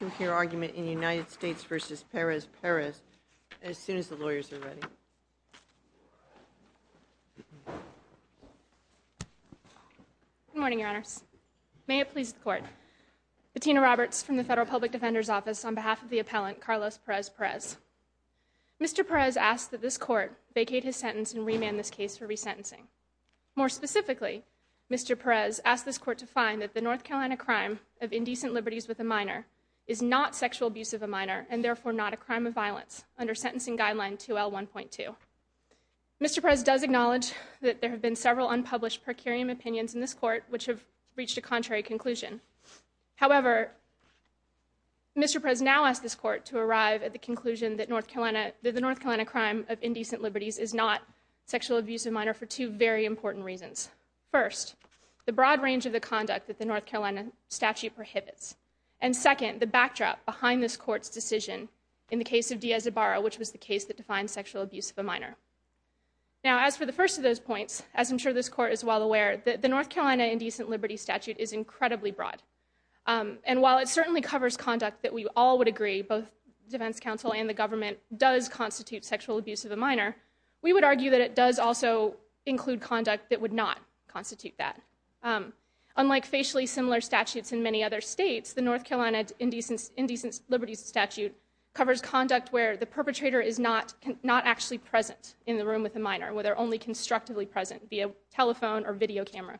to hear argument in United States v. Perez-Perez as soon as the lawyers are ready. Good morning, Your Honors. May it please the Court. Bettina Roberts from the Federal Public Defender's Office on behalf of the appellant, Carlos Perez-Perez. Mr. Perez asked that this Court vacate his sentence and remand this case for resentencing. More specifically, Mr. Perez asked this Court to find that the North Carolina crime of indecent liberties with a minor is not sexual abuse of a minor and therefore not a crime of violence under Sentencing Guideline 2L1.2. Mr. Perez does acknowledge that there have been several unpublished per curiam opinions in this Court which have reached a contrary conclusion. However, Mr. Perez now asks this Court to arrive at the conclusion that the North Carolina crime of indecent liberties is not sexual abuse of a minor for two very important reasons. First, the broad range of the conduct that the North Carolina statute prohibits. And second, the backdrop behind this Court's decision in the case of Diaz-Zabarro, which was the case that defined sexual abuse of a minor. Now, as for the first of those points, as I'm sure this Court is well aware, the North Carolina indecent liberties statute is incredibly broad. And while it certainly covers conduct that we all would agree, both defense counsel and the government, does constitute sexual abuse of a minor, we would argue that it does also include conduct that would not constitute that. Unlike facially similar statutes in many other states, the North Carolina indecent liberties statute covers conduct where the perpetrator is not actually present in the room with a minor, where they're only constructively present, via telephone or video camera.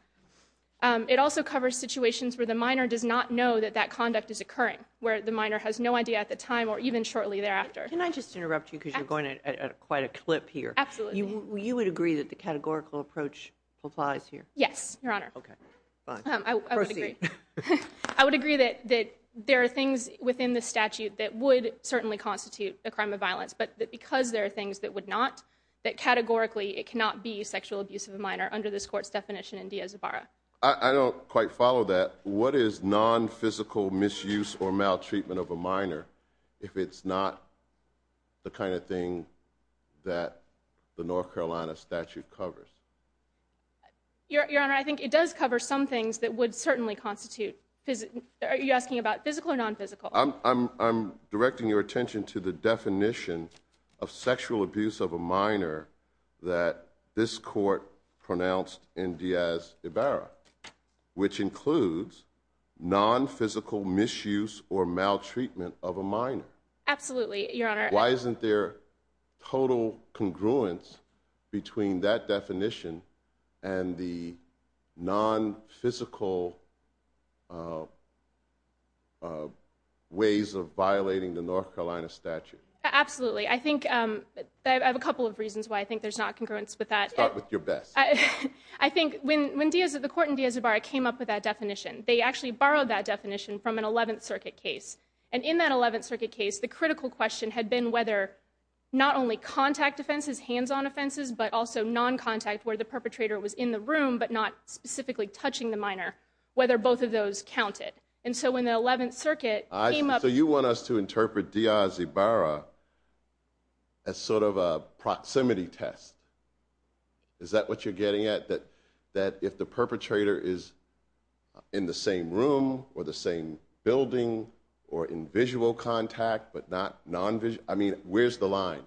It also covers situations where the minor does not know that that conduct is occurring, where the minor has no idea at the time or even shortly thereafter. Can I just interrupt you because you're going at quite a clip here? Absolutely. You would agree that the categorical approach applies here? Yes, Your Honor. Okay. Fine. Proceed. I would agree that there are things within the statute that would certainly constitute a crime of violence, but that because there are things that would not, that categorically it cannot be sexual abuse of a minor under this Court's definition in Diaz-Zabarro. I don't quite follow that. What is non-physical misuse or maltreatment of a minor if it's not the kind of thing that the North Carolina statute covers? Your Honor, I think it does cover some things that would certainly constitute, are you asking about physical or non-physical? I'm directing your attention to the definition of sexual abuse of a minor that this Court pronounced in Diaz-Zabarro, which includes non-physical misuse or maltreatment of a minor. Absolutely, Your Honor. Why isn't there total congruence between that definition and the non-physical ways of violating the North Carolina statute? Absolutely. I think, I have a couple of reasons why I think there's not congruence with that. Start with your best. I think when the Court in Diaz-Zabarro came up with that definition, they actually borrowed that definition from an 11th Circuit case. And in that 11th Circuit case, the critical question had been whether not only contact offenses, hands-on offenses, but also non-contact, where the perpetrator was in the room but not specifically touching the minor, whether both of those counted. And so when the 11th Circuit came up with... So you want us to interpret Diaz-Zabarro as sort of a proximity test. Is that what you're getting at, that if the perpetrator is in the same room or the same building or in visual contact but not non-visual? I mean, where's the line?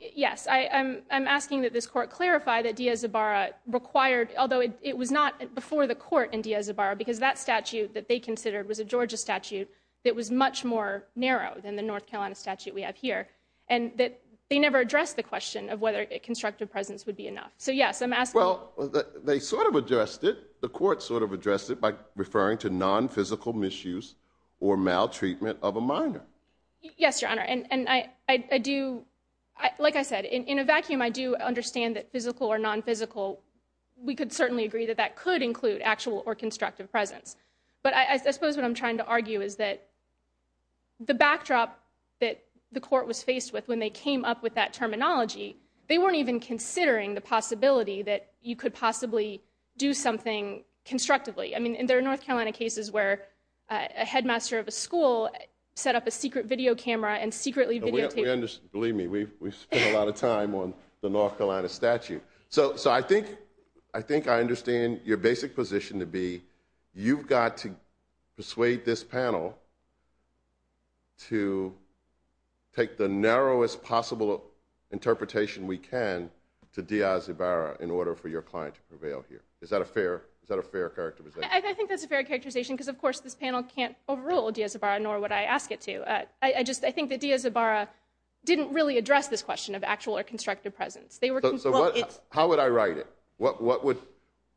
Yes, I'm asking that this Court clarify that Diaz-Zabarro required, although it was not before the Court in Diaz-Zabarro, because that statute that they considered was a Georgia statute that was much more narrow than the North Carolina statute we have here. And that they never addressed the question of whether a constructive presence would be enough. So, yes, I'm asking... Well, they sort of addressed it. The Court sort of addressed it by referring to non-physical misuse or maltreatment of a minor. Yes, Your Honor, and I do... Like I said, in a vacuum, I do understand that physical or non-physical, we could certainly agree that that could include actual or constructive presence. But I suppose what I'm trying to argue is that the backdrop that the Court was faced with when they came up with that terminology, they weren't even considering the possibility that you could possibly do something constructively. I mean, there are North Carolina cases where a headmaster of a school set up a secret video camera and secretly videotaped... Believe me, we've spent a lot of time on the North Carolina statute. So I think I understand your basic position to be, you've got to persuade this panel to take the narrowest possible interpretation we can to Díaz-Ibarra in order for your client to prevail here. Is that a fair characterization? I think that's a fair characterization because, of course, this panel can't overrule Díaz-Ibarra, nor would I ask it to. I just think that Díaz-Ibarra didn't really address this question of actual or constructive presence. How would I write it? What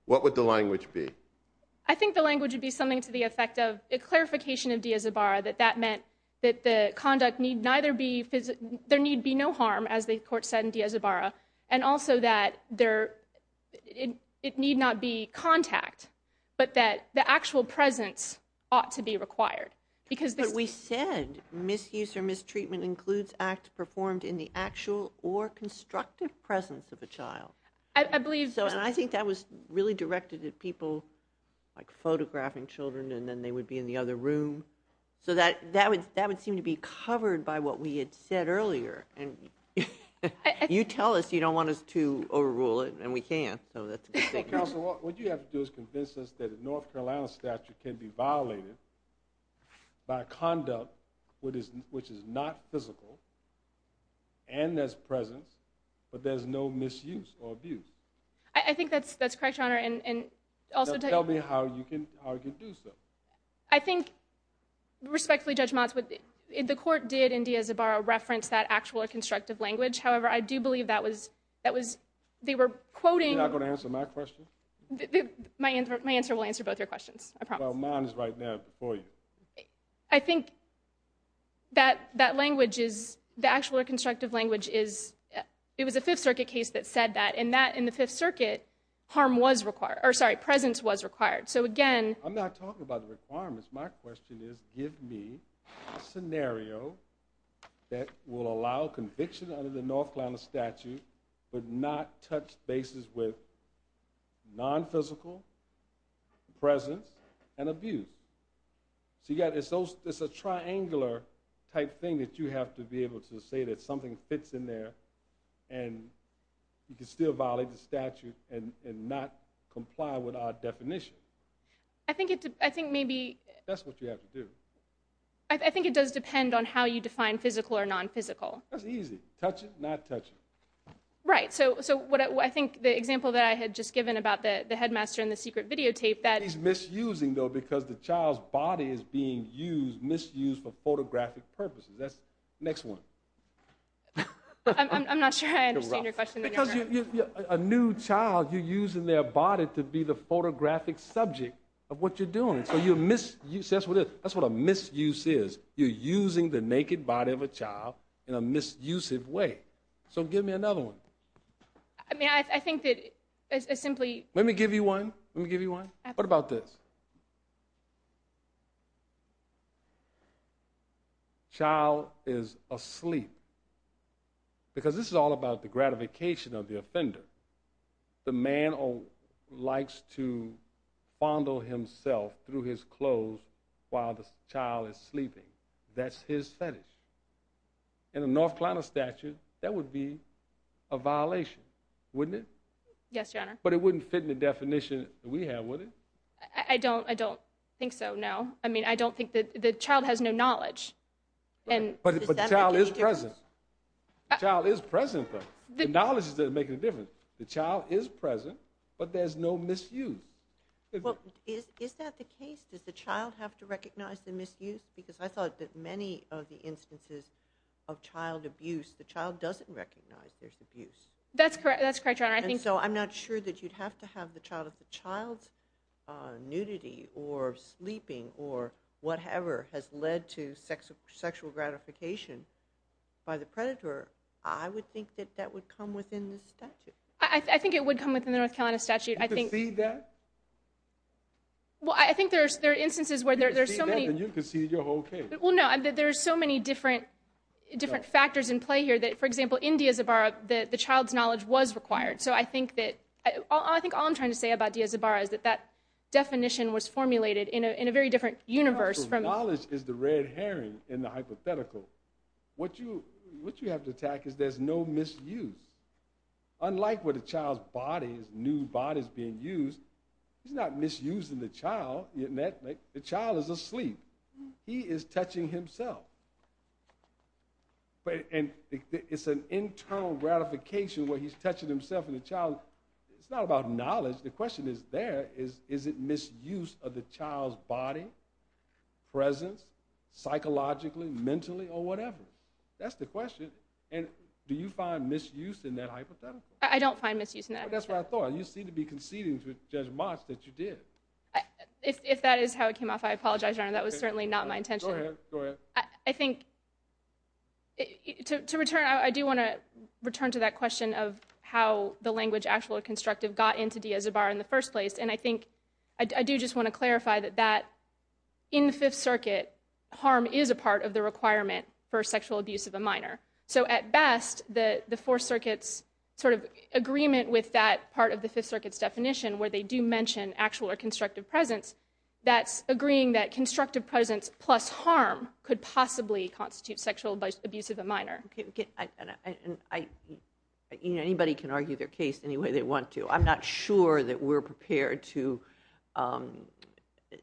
would the language be? I think the language would be something to the effect of a clarification of Díaz-Ibarra, that that meant that there need be no harm, as the Court said in Díaz-Ibarra, and also that it need not be contact, but that the actual presence ought to be required. But we said misuse or mistreatment includes acts performed in the actual or constructive presence of a child. I believe so, and I think that was really directed at people like photographing children and then they would be in the other room. So that would seem to be covered by what we had said earlier. You tell us you don't want us to overrule it, and we can't. Counsel, what you have to do is convince us that a North Carolina statute can be violated by conduct which is not physical and there's presence, but there's no misuse or abuse. I think that's correct, Your Honor. Tell me how you can do so. I think, respectfully, Judge Motz, the Court did, in Díaz-Ibarra, reference that actual or constructive language. However, I do believe that was, they were quoting. You're not going to answer my question? My answer will answer both your questions, I promise. Well, mine is right there before you. I think that language is, the actual or constructive language is, it was a Fifth Circuit case that said that. In the Fifth Circuit, harm was required, or sorry, presence was required. So again. I'm not talking about the requirements. My question is, give me a scenario that will allow conviction under the North Carolina statute but not touch bases with non-physical presence and abuse. So it's a triangular type thing that you have to be able to say that something fits in there and you can still violate the statute and not comply with our definition. I think maybe. That's what you have to do. I think it does depend on how you define physical or non-physical. That's easy. Touch it, not touch it. Right. So I think the example that I had just given about the headmaster and the secret videotape that. He's misusing, though, because the child's body is being misused for photographic purposes. Next one. I'm not sure I understand your question. Because a new child, you're using their body to be the photographic subject of what you're doing. So that's what a misuse is. You're using the naked body of a child in a misusive way. So give me another one. I mean, I think that simply. Let me give you one. Let me give you one. What about this? Child is asleep. Because this is all about the gratification of the offender. The man likes to fondle himself through his clothes while the child is sleeping. That's his fetish. In a North Carolina statute, that would be a violation, wouldn't it? Yes, Your Honor. But it wouldn't fit in the definition that we have, would it? I don't think so, no. I mean, I don't think that the child has no knowledge. But the child is present. The child is present, though. The knowledge doesn't make any difference. The child is present, but there's no misuse. Well, is that the case? Does the child have to recognize the misuse? Because I thought that many of the instances of child abuse, the child doesn't recognize there's abuse. That's correct, Your Honor. And so I'm not sure that you'd have to have the child's nudity or sleeping or whatever has led to sexual gratification by the predator. I would think that that would come within the statute. I think it would come within the North Carolina statute. You concede that? Well, I think there are instances where there's so many. You concede that, then you concede your whole case. Well, no, there are so many different factors in play here that, for example, in Diaz-Zabara, the child's knowledge was required. So I think all I'm trying to say about Diaz-Zabara is that that definition was formulated in a very different universe. Knowledge is the red herring in the hypothetical. What you have to attack is there's no misuse. Unlike with a child's body, his new body is being used, he's not misusing the child. The child is asleep. He is touching himself. It's an internal gratification where he's touching himself and the child. It's not about knowledge. The question is there, is it misuse of the child's body, presence, psychologically, mentally, or whatever? That's the question. And do you find misuse in that hypothetical? I don't find misuse in that hypothetical. That's what I thought. You seem to be conceding to Judge March that you did. If that is how it came off, I apologize, Your Honor. That was certainly not my intention. Go ahead. I think to return, I do want to return to that question of how the language actual or constructive got into Diaz-Zabara in the first place. And I think I do just want to clarify that in the Fifth Circuit, harm is a part of the requirement for sexual abuse of a minor. So at best, the Fourth Circuit's sort of agreement with that part of the Fifth Circuit's definition where they do mention actual or constructive presence, that's agreeing that constructive presence plus harm could possibly constitute sexual abuse of a minor. Anybody can argue their case any way they want to. I'm not sure that we're prepared to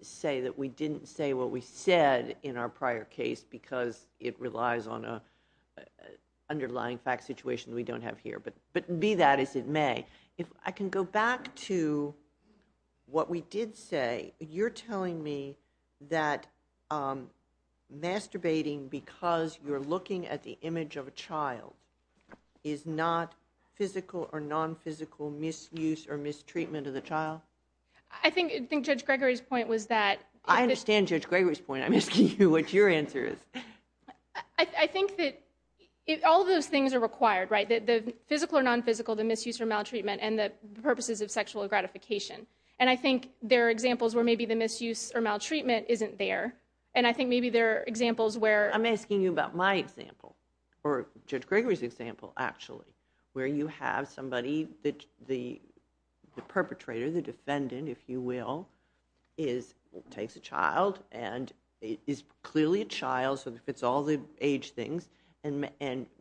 say that we didn't say what we said in our prior case because it relies on an underlying fact situation we don't have here, but be that as it may. If I can go back to what we did say, you're telling me that masturbating because you're looking at the image of a child is not physical or non-physical misuse or mistreatment of the child? I think Judge Gregory's point was that... I understand Judge Gregory's point. I'm asking you what your answer is. I think that all those things are required, right? The physical or non-physical, the misuse or maltreatment, and the purposes of sexual gratification. I think there are examples where maybe the misuse or maltreatment isn't there, and I think maybe there are examples where... I'm asking you about my example, or Judge Gregory's example, actually, where you have somebody, the perpetrator, the defendant, if you will, takes a child and is clearly a child, so it fits all the age things, and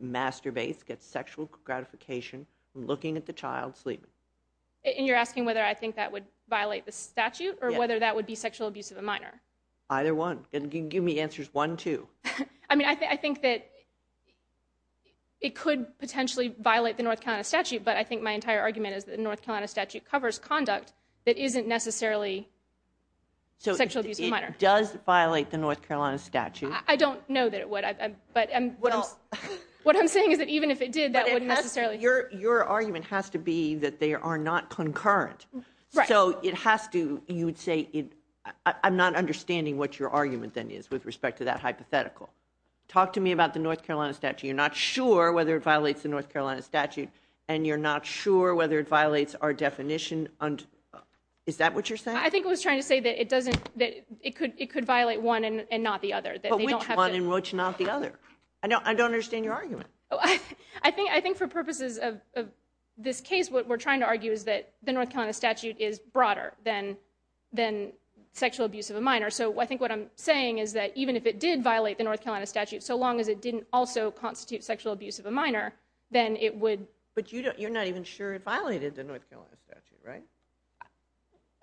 masturbates, gets sexual gratification from looking at the child sleeping. And you're asking whether I think that would violate the statute or whether that would be sexual abuse of a minor? Either one. You can give me answers one, two. I mean, I think that it could potentially violate the North Carolina statute, but I think my entire argument is that the North Carolina statute covers conduct that isn't necessarily sexual abuse of a minor. So it does violate the North Carolina statute? I don't know that it would. What I'm saying is that even if it did, that wouldn't necessarily... Your argument has to be that they are not concurrent. Right. So it has to, you would say, I'm not understanding what your argument then is with respect to that hypothetical. Talk to me about the North Carolina statute. You're not sure whether it violates the North Carolina statute, and you're not sure whether it violates our definition. Is that what you're saying? I think I was trying to say that it could violate one and not the other. But which one and which not the other? I don't understand your argument. I think for purposes of this case, what we're trying to argue is that the North Carolina statute is broader than sexual abuse of a minor. So I think what I'm saying is that even if it did violate the North Carolina statute, so long as it didn't also constitute sexual abuse of a minor, then it would... But you're not even sure it violated the North Carolina statute, right?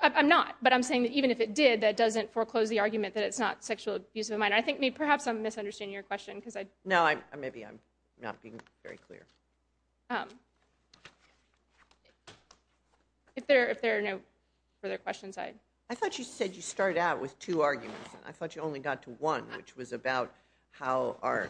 I'm not. But I'm saying that even if it did, that doesn't foreclose the argument that it's not sexual abuse of a minor. I think perhaps I'm misunderstanding your question because I... No, maybe I'm not being very clear. If there are no further questions, I... I thought you said you started out with two arguments. I thought you only got to one, which was about how our...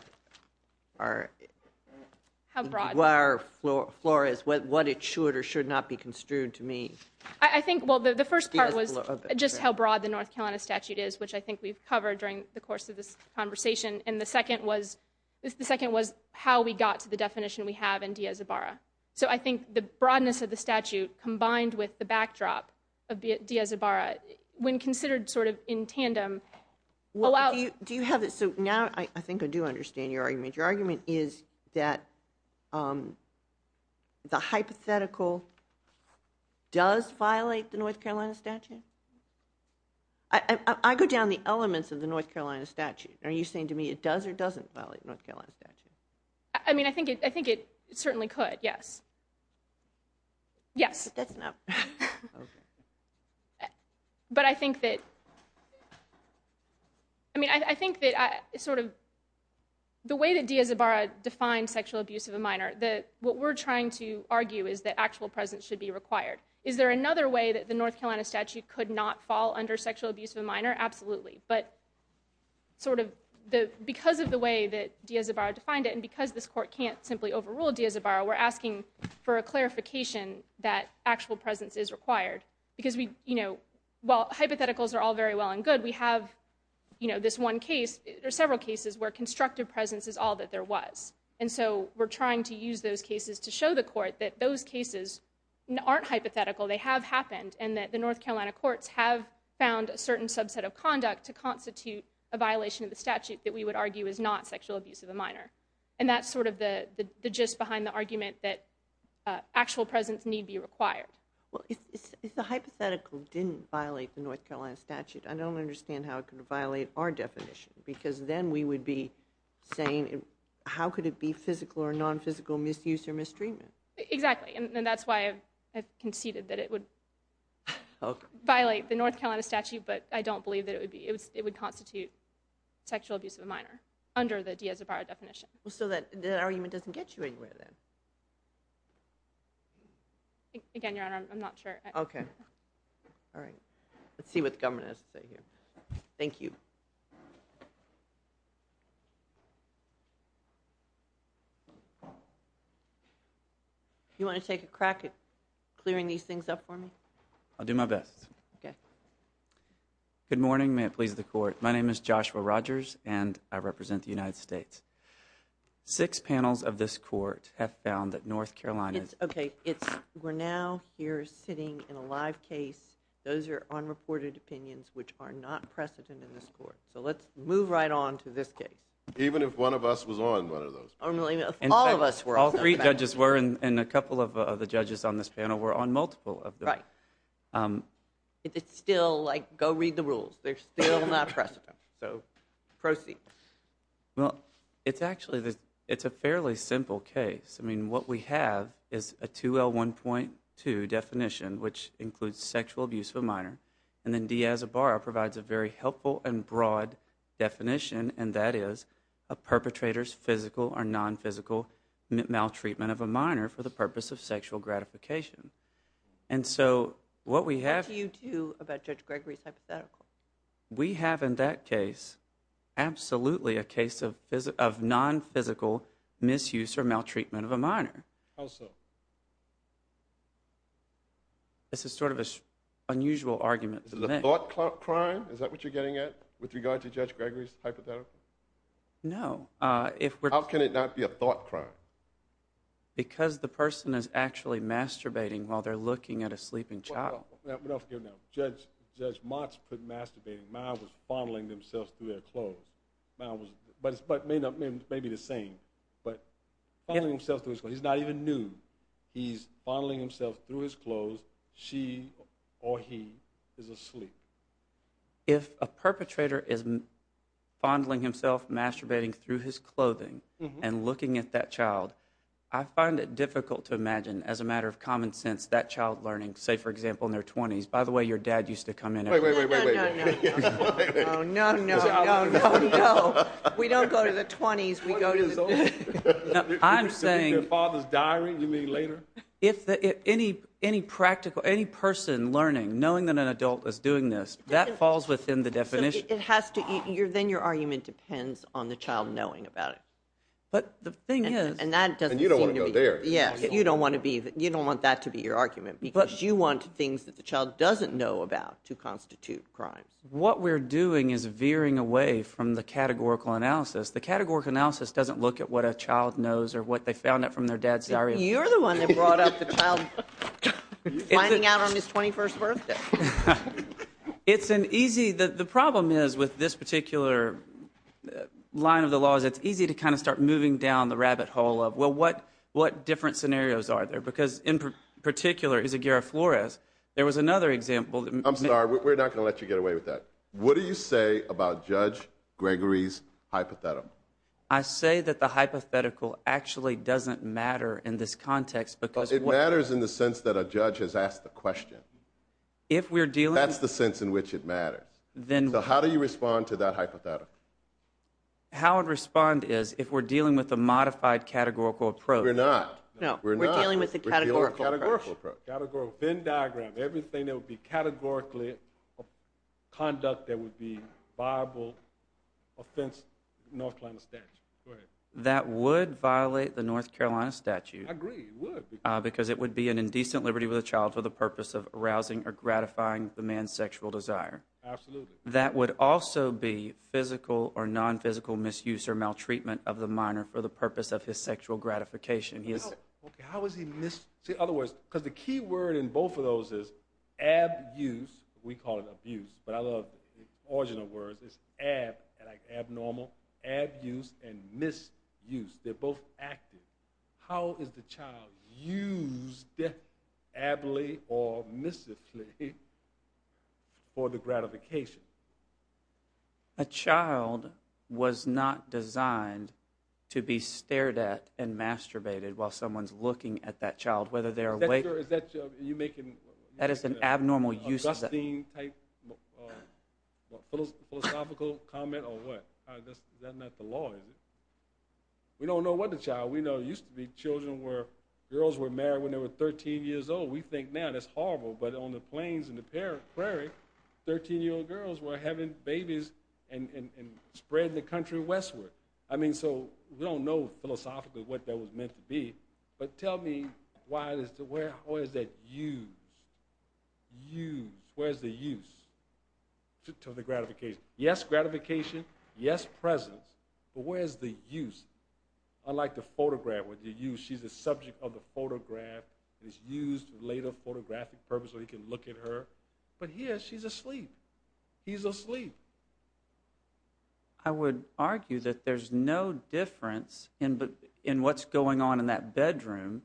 How broad. ...what it should or should not be construed to mean. I think, well, the first part was just how broad the North Carolina statute is, which I think we've covered during the course of this conversation, and the second was how we got to the definition we have in Diaz-Ibarra. So I think the broadness of the statute combined with the backdrop of Diaz-Ibarra, when considered sort of in tandem, allow... Do you have... So now I think I do understand your argument. Your argument is that the hypothetical does violate the North Carolina statute? I go down the elements of the North Carolina statute. Are you saying to me it does or doesn't violate the North Carolina statute? I mean, I think it certainly could, yes. Yes. But that's not... Okay. But I think that... I mean, I think that sort of the way that Diaz-Ibarra defines sexual abuse of a minor, what we're trying to argue is that actual presence should be required. Is there another way that the North Carolina statute could not fall under sexual abuse of a minor? Absolutely. But sort of because of the way that Diaz-Ibarra defined it, and because this court can't simply overrule Diaz-Ibarra, we're asking for a clarification that actual presence is required. Because, you know, while hypotheticals are all very well and good, we have, you know, this one case, there are several cases where constructive presence is all that there was. And so we're trying to use those cases to show the court that those cases aren't hypothetical, they have happened, and that the North Carolina courts have found a certain subset of conduct to constitute a violation of the statute that we would argue is not sexual abuse of a minor. And that's sort of the gist behind the argument that actual presence need be required. Well, if the hypothetical didn't violate the North Carolina statute, I don't understand how it could violate our definition. Because then we would be saying, how could it be physical or nonphysical misuse or mistreatment? Exactly, and that's why I conceded that it would violate the North Carolina statute, but I don't believe that it would constitute sexual abuse of a minor under the Diaz-Ibarra definition. So that argument doesn't get you anywhere, then? Again, Your Honor, I'm not sure. Okay. All right. Let's see what the government has to say here. Thank you. You want to take a crack at clearing these things up for me? I'll do my best. Okay. Good morning. May it please the Court. My name is Joshua Rogers, and I represent the United States. Six panels of this court have found that North Carolina... It's okay. We're now here sitting in a live case. Those are unreported opinions which are not precedent in this court. So let's move right on to this case. Even if one of us was on one of those. Even if all of us were on one of those. All three judges were, and a couple of the judges on this panel were on multiple of those. Right. It's still like, go read the rules. They're still not precedent. So proceed. Well, it's actually a fairly simple case. I mean, what we have is a 2L1.2 definition, which includes sexual abuse of a minor, and then Diaz-Ibarra provides a very helpful and broad definition, and that is a perpetrator's physical or non-physical maltreatment of a minor for the purpose of sexual gratification. And so what we have... What do you do about Judge Gregory's hypothetical? We have in that case absolutely a case of non-physical misuse or maltreatment of a minor. How so? This is sort of an unusual argument to make. Is it a thought crime? Is that what you're getting at with regard to Judge Gregory's hypothetical? No. How can it not be a thought crime? Because the person is actually masturbating while they're looking at a sleeping child. We don't forgive them. Judge Mott's masturbating. Miles was fondling himself through their clothes. But it may be the same. But fondling himself through his clothes. He's not even nude. He's fondling himself through his clothes. She or he is asleep. If a perpetrator is fondling himself, masturbating through his clothing and looking at that child, I find it difficult to imagine, as a matter of common sense, that child learning, say, for example, in their 20s. By the way, your dad used to come in and... No, no, no, no. No, no, no, no, no. We don't go to the 20s. I'm saying... You mean their father's diary? You mean later? Any person learning, knowing that an adult is doing this, that falls within the definition. Then your argument depends on the child knowing about it. But the thing is... And you don't want to go there. You don't want that to be your argument because you want things that the child doesn't know about to constitute crime. What we're doing is veering away from the categorical analysis. The categorical analysis doesn't look at what a child knows or what they found out from their dad's diary. You're the one that brought up the child finding out on his 21st birthday. It's an easy... The problem is, with this particular line of the law, is it's easy to kind of start moving down the rabbit hole of, well, what different scenarios are there? Because, in particular, Izaguirre Flores, there was another example... I'm sorry, we're not going to let you get away with that. What do you say about Judge Gregory's hypothetum? I say that the hypothetical actually doesn't matter in this context because... It matters in the sense that a judge has asked the question. If we're dealing... That's the sense in which it matters. So how do you respond to that hypothetical? How I'd respond is, if we're dealing with a modified categorical approach... We're not. No, we're dealing with a categorical approach. Venn diagram, everything that would be categorically conduct that would be viable offense North Carolina statute. Go ahead. That would violate the North Carolina statute. I agree, it would. Because it would be an indecent liberty with a child for the purpose of arousing or gratifying the man's sexual desire. Absolutely. That would also be physical or non-physical misuse or maltreatment of the minor for the purpose of his sexual gratification. How is he mis... See, in other words, because the key word in both of those is abuse. We call it abuse, but I love the original words. It's ab, like abnormal, abuse, and misuse. They're both active. How is the child used, ably or missively, for the gratification? A child was not designed to be stared at and masturbated while someone's looking at that child, whether they're awake... That is an abnormal use of... ...philosophical comment or what? That's not the law, is it? We don't know what a child... We know there used to be children where girls were married when they were 13 years old. We think now that's horrible, but on the plains and the prairie, 13-year-old girls were having babies and spread the country westward. I mean, so we don't know philosophically what that was meant to be, but tell me, where is that use? Where is the use to the gratification? Yes, gratification. Yes, presence. But where is the use? Unlike the photograph, she's the subject of the photograph. It's used for later photographic purposes, so he can look at her. But here, she's asleep. He's asleep. I would argue that there's no difference in what's going on in that bedroom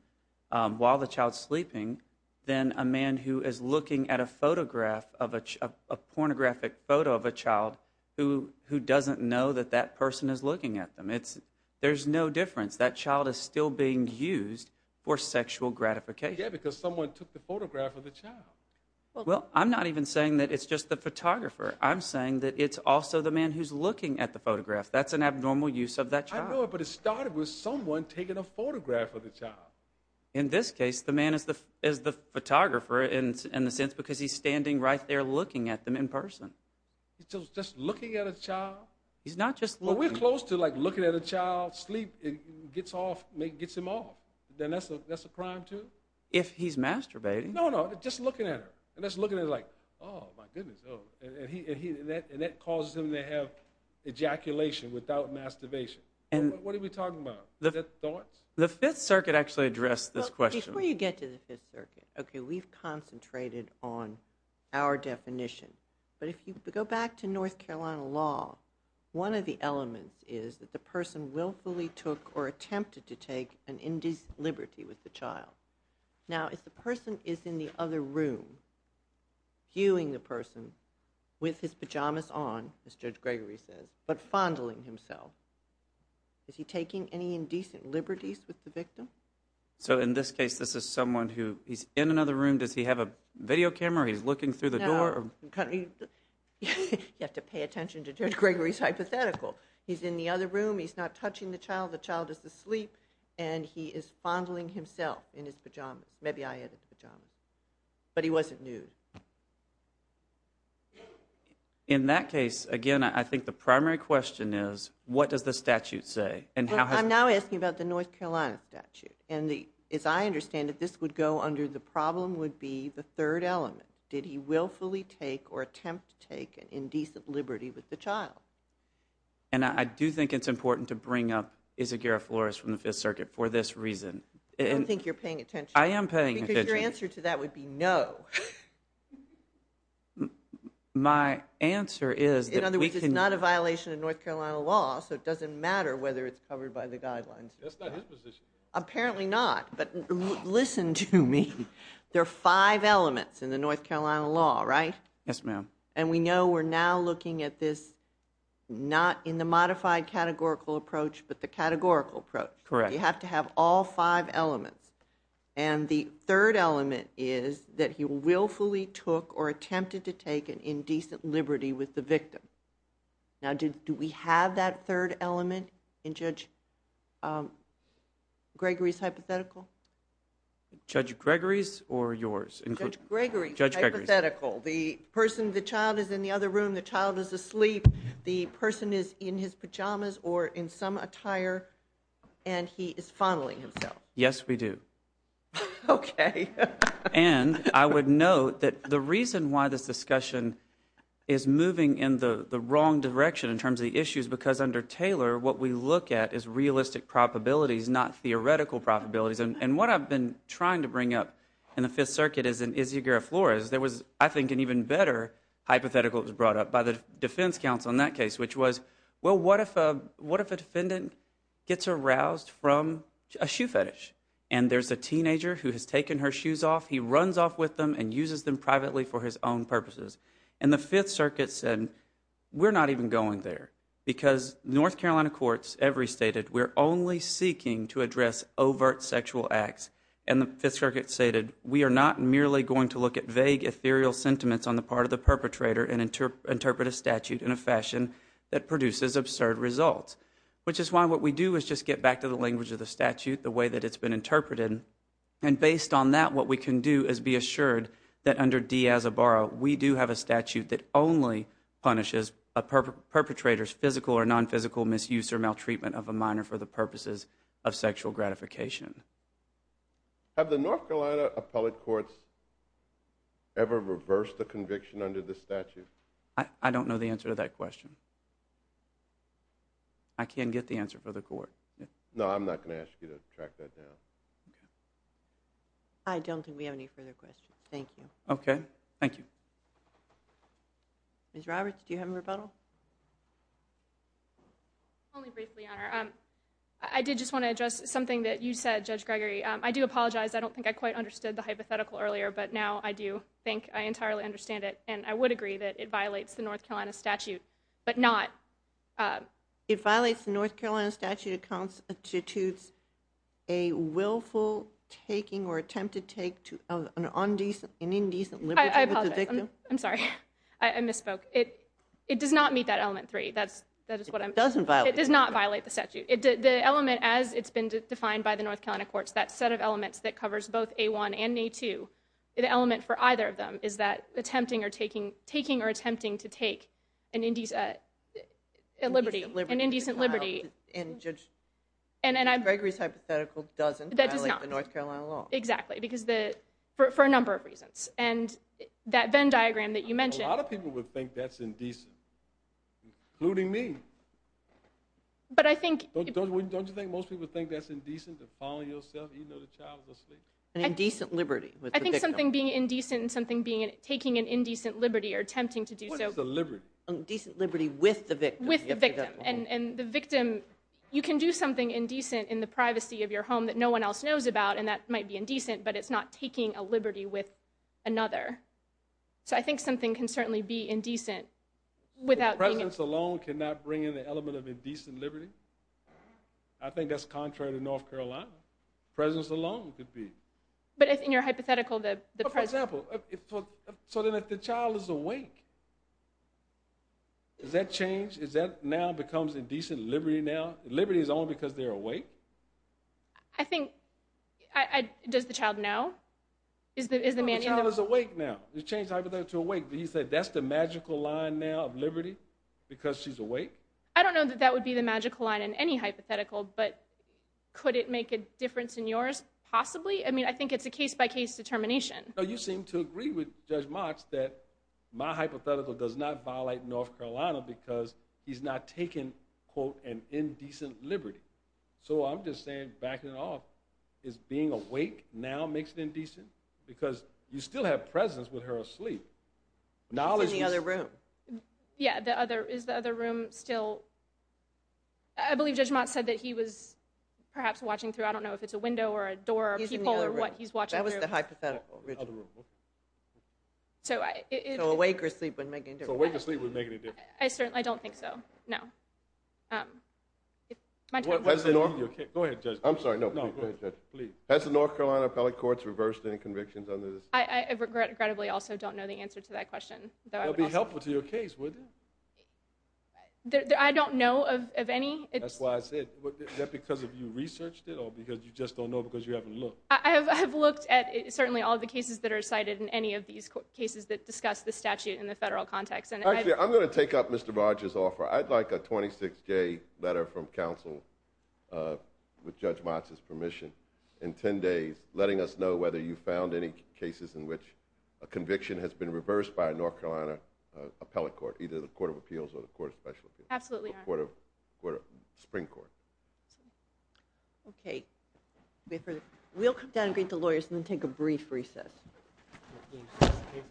while the child's sleeping than a man who is looking at a photograph, a pornographic photo of a child, who doesn't know that that person is looking at them. There's no difference. That child is still being used for sexual gratification. Yeah, because someone took the photograph of the child. Well, I'm not even saying that it's just the photographer. I'm saying that it's also the man who's looking at the photograph. That's an abnormal use of that child. I know, but it started with someone taking a photograph of the child. In this case, the man is the photographer, in a sense, because he's standing right there looking at them in person. He's just looking at a child? He's not just looking. Well, we're close to looking at a child sleep and gets him off. Then that's a crime, too? If he's masturbating. No, no, just looking at her. Just looking at her like, oh, my goodness. That causes him to have ejaculation without masturbation. What are we talking about? The Fifth Circuit actually addressed this question. Before you get to the Fifth Circuit, we've concentrated on our definition. But if you go back to North Carolina law, one of the elements is that the person willfully took or attempted to take an indecent liberty with the child. Now, if the person is in the other room, viewing the person with his pajamas on, as Judge Gregory says, but fondling himself, is he taking any indecent liberties with the victim? So in this case, this is someone who is in another room. Does he have a video camera? He's looking through the door? You have to pay attention to Judge Gregory's hypothetical. He's in the other room. He's not touching the child. The child is asleep, and he is fondling himself in his pajamas. Maybe I added the pajamas. But he wasn't nude. In that case, again, I think the primary question is, what does the statute say? I'm now asking about the North Carolina statute. As I understand it, this would go under the problem would be the third element. Did he willfully take or attempt to take an indecent liberty with the child? And I do think it's important to bring up Isaac Garofalores from the Fifth Circuit for this reason. I don't think you're paying attention. I am paying attention. Because your answer to that would be no. My answer is that we can... In other words, it's not a violation of North Carolina law, so it doesn't matter whether it's covered by the guidelines. That's not his position. Apparently not. There are five elements in the North Carolina law, right? Yes, ma'am. And we know we're now looking at this not in the modified categorical approach, but the categorical approach. Correct. You have to have all five elements. And the third element is that he willfully took or attempted to take an indecent liberty with the victim. Now, do we have that third element in Judge Gregory's hypothetical? Judge Gregory's or yours? Judge Gregory's hypothetical. Judge Gregory's. The child is in the other room. The child is asleep. The person is in his pajamas or in some attire, and he is fondling himself. Yes, we do. Okay. And I would note that the reason why this discussion is moving in the wrong direction in terms of the issues because under Taylor, what we look at is realistic probabilities, not theoretical probabilities. And what I've been trying to bring up in the Fifth Circuit is in Issigura Flores, there was, I think, an even better hypothetical that was brought up by the defense counsel in that case, which was, well, what if a defendant gets aroused from a shoe fetish, and there's a teenager who has taken her shoes off, he runs off with them and uses them privately for his own purposes? And the Fifth Circuit said, we're not even going there because North Carolina courts every stated we're only seeking to address overt sexual acts, and the Fifth Circuit stated, we are not merely going to look at vague ethereal sentiments on the part of the perpetrator and interpret a statute in a fashion that produces absurd results, which is why what we do is just get back to the language of the statute, the way that it's been interpreted, and based on that, what we can do is be assured that under Diaz-Oboro, we do have a statute that only punishes a perpetrator's physical or nonphysical misuse or maltreatment of a minor for the purposes of sexual gratification. Have the North Carolina appellate courts ever reversed the conviction under the statute? I don't know the answer to that question. I can't get the answer for the court. No, I'm not going to ask you to track that down. I don't think we have any further questions. Thank you. Okay. Thank you. Ms. Roberts, do you have a rebuttal? Only briefly, Your Honor. I did just want to address something that you said, Judge Gregory. I do apologize. I don't think I quite understood the hypothetical earlier, but now I do think I entirely understand it, and I would agree that it violates the North Carolina statute, but not... It violates the North Carolina statute that constitutes a willful taking or attempt to take an indecent liberty with the victim? I apologize. I'm sorry. I misspoke. It does not meet that element 3. It doesn't violate it. It does not violate the statute. The element, as it's been defined by the North Carolina courts, that set of elements that covers both A1 and A2, the element for either of them is that attempting or taking... taking or attempting to take an indecent liberty. An indecent liberty. And Judge Gregory's hypothetical doesn't violate the North Carolina law. Exactly, because the... for a number of reasons. And that Venn diagram that you mentioned... A lot of people would think that's indecent, including me. But I think... Don't you think most people think that's indecent, to fall on yourself even though the child is asleep? An indecent liberty with the victim. I think something being indecent and something being... taking an indecent liberty or attempting to do so... What is a liberty? Indecent liberty with the victim. With the victim. And the victim... You can do something indecent in the privacy of your home that no one else knows about, and that might be indecent, but it's not taking a liberty with another. So I think something can certainly be indecent without being... Presidents alone cannot bring in the element of indecent liberty. I think that's contrary to North Carolina. Presidents alone could be. But in your hypothetical, the president... For example... So then if the child is awake, does that change? Does that now become indecent liberty now? Liberty is only because they're awake? I think... Does the child know? Is the man in the room... The child is awake now. You change the hypothetical to awake. He said that's the magical line now of liberty because she's awake? I don't know that that would be the magical line in any hypothetical, but could it make a difference in yours? Possibly. I mean, I think it's a case-by-case determination. You seem to agree with Judge Motz that my hypothetical does not violate North Carolina because he's not taking, quote, an indecent liberty. So I'm just saying, backing it off, is being awake now makes it indecent? Because you still have presence with her asleep. In the other room. Yeah, is the other room still... I believe Judge Motz said that he was perhaps watching through, I don't know if it's a window or a door or people or what he's watching through. That was the hypothetical. So awake or asleep wouldn't make any difference. So awake or asleep wouldn't make any difference. I don't think so, no. Go ahead, Judge. I'm sorry, no. Please. Has the North Carolina appellate courts reversed any convictions under this? I regrettably also don't know the answer to that question. It would be helpful to your case, wouldn't it? I don't know of any. That's why I said, is that because you researched it or because you just don't know because you haven't looked? I have looked at certainly all the cases that are cited in any of these cases that discuss the statute in the federal context. Actually, I'm going to take up Mr. Rogers' offer. I'd like a 26-day letter from counsel with Judge Motz's permission in 10 days letting us know whether you found any cases in which a conviction has been reversed by a North Carolina appellate court, either the Court of Appeals or the Court of Special Appeals. Absolutely, Your Honor. Or the Supreme Court. OK. We have further questions. We'll come down and greet the lawyers and then take a brief recess. Thank you. Thank you.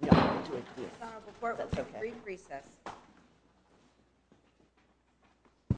Thank you. Your Honor, before it was a brief recess.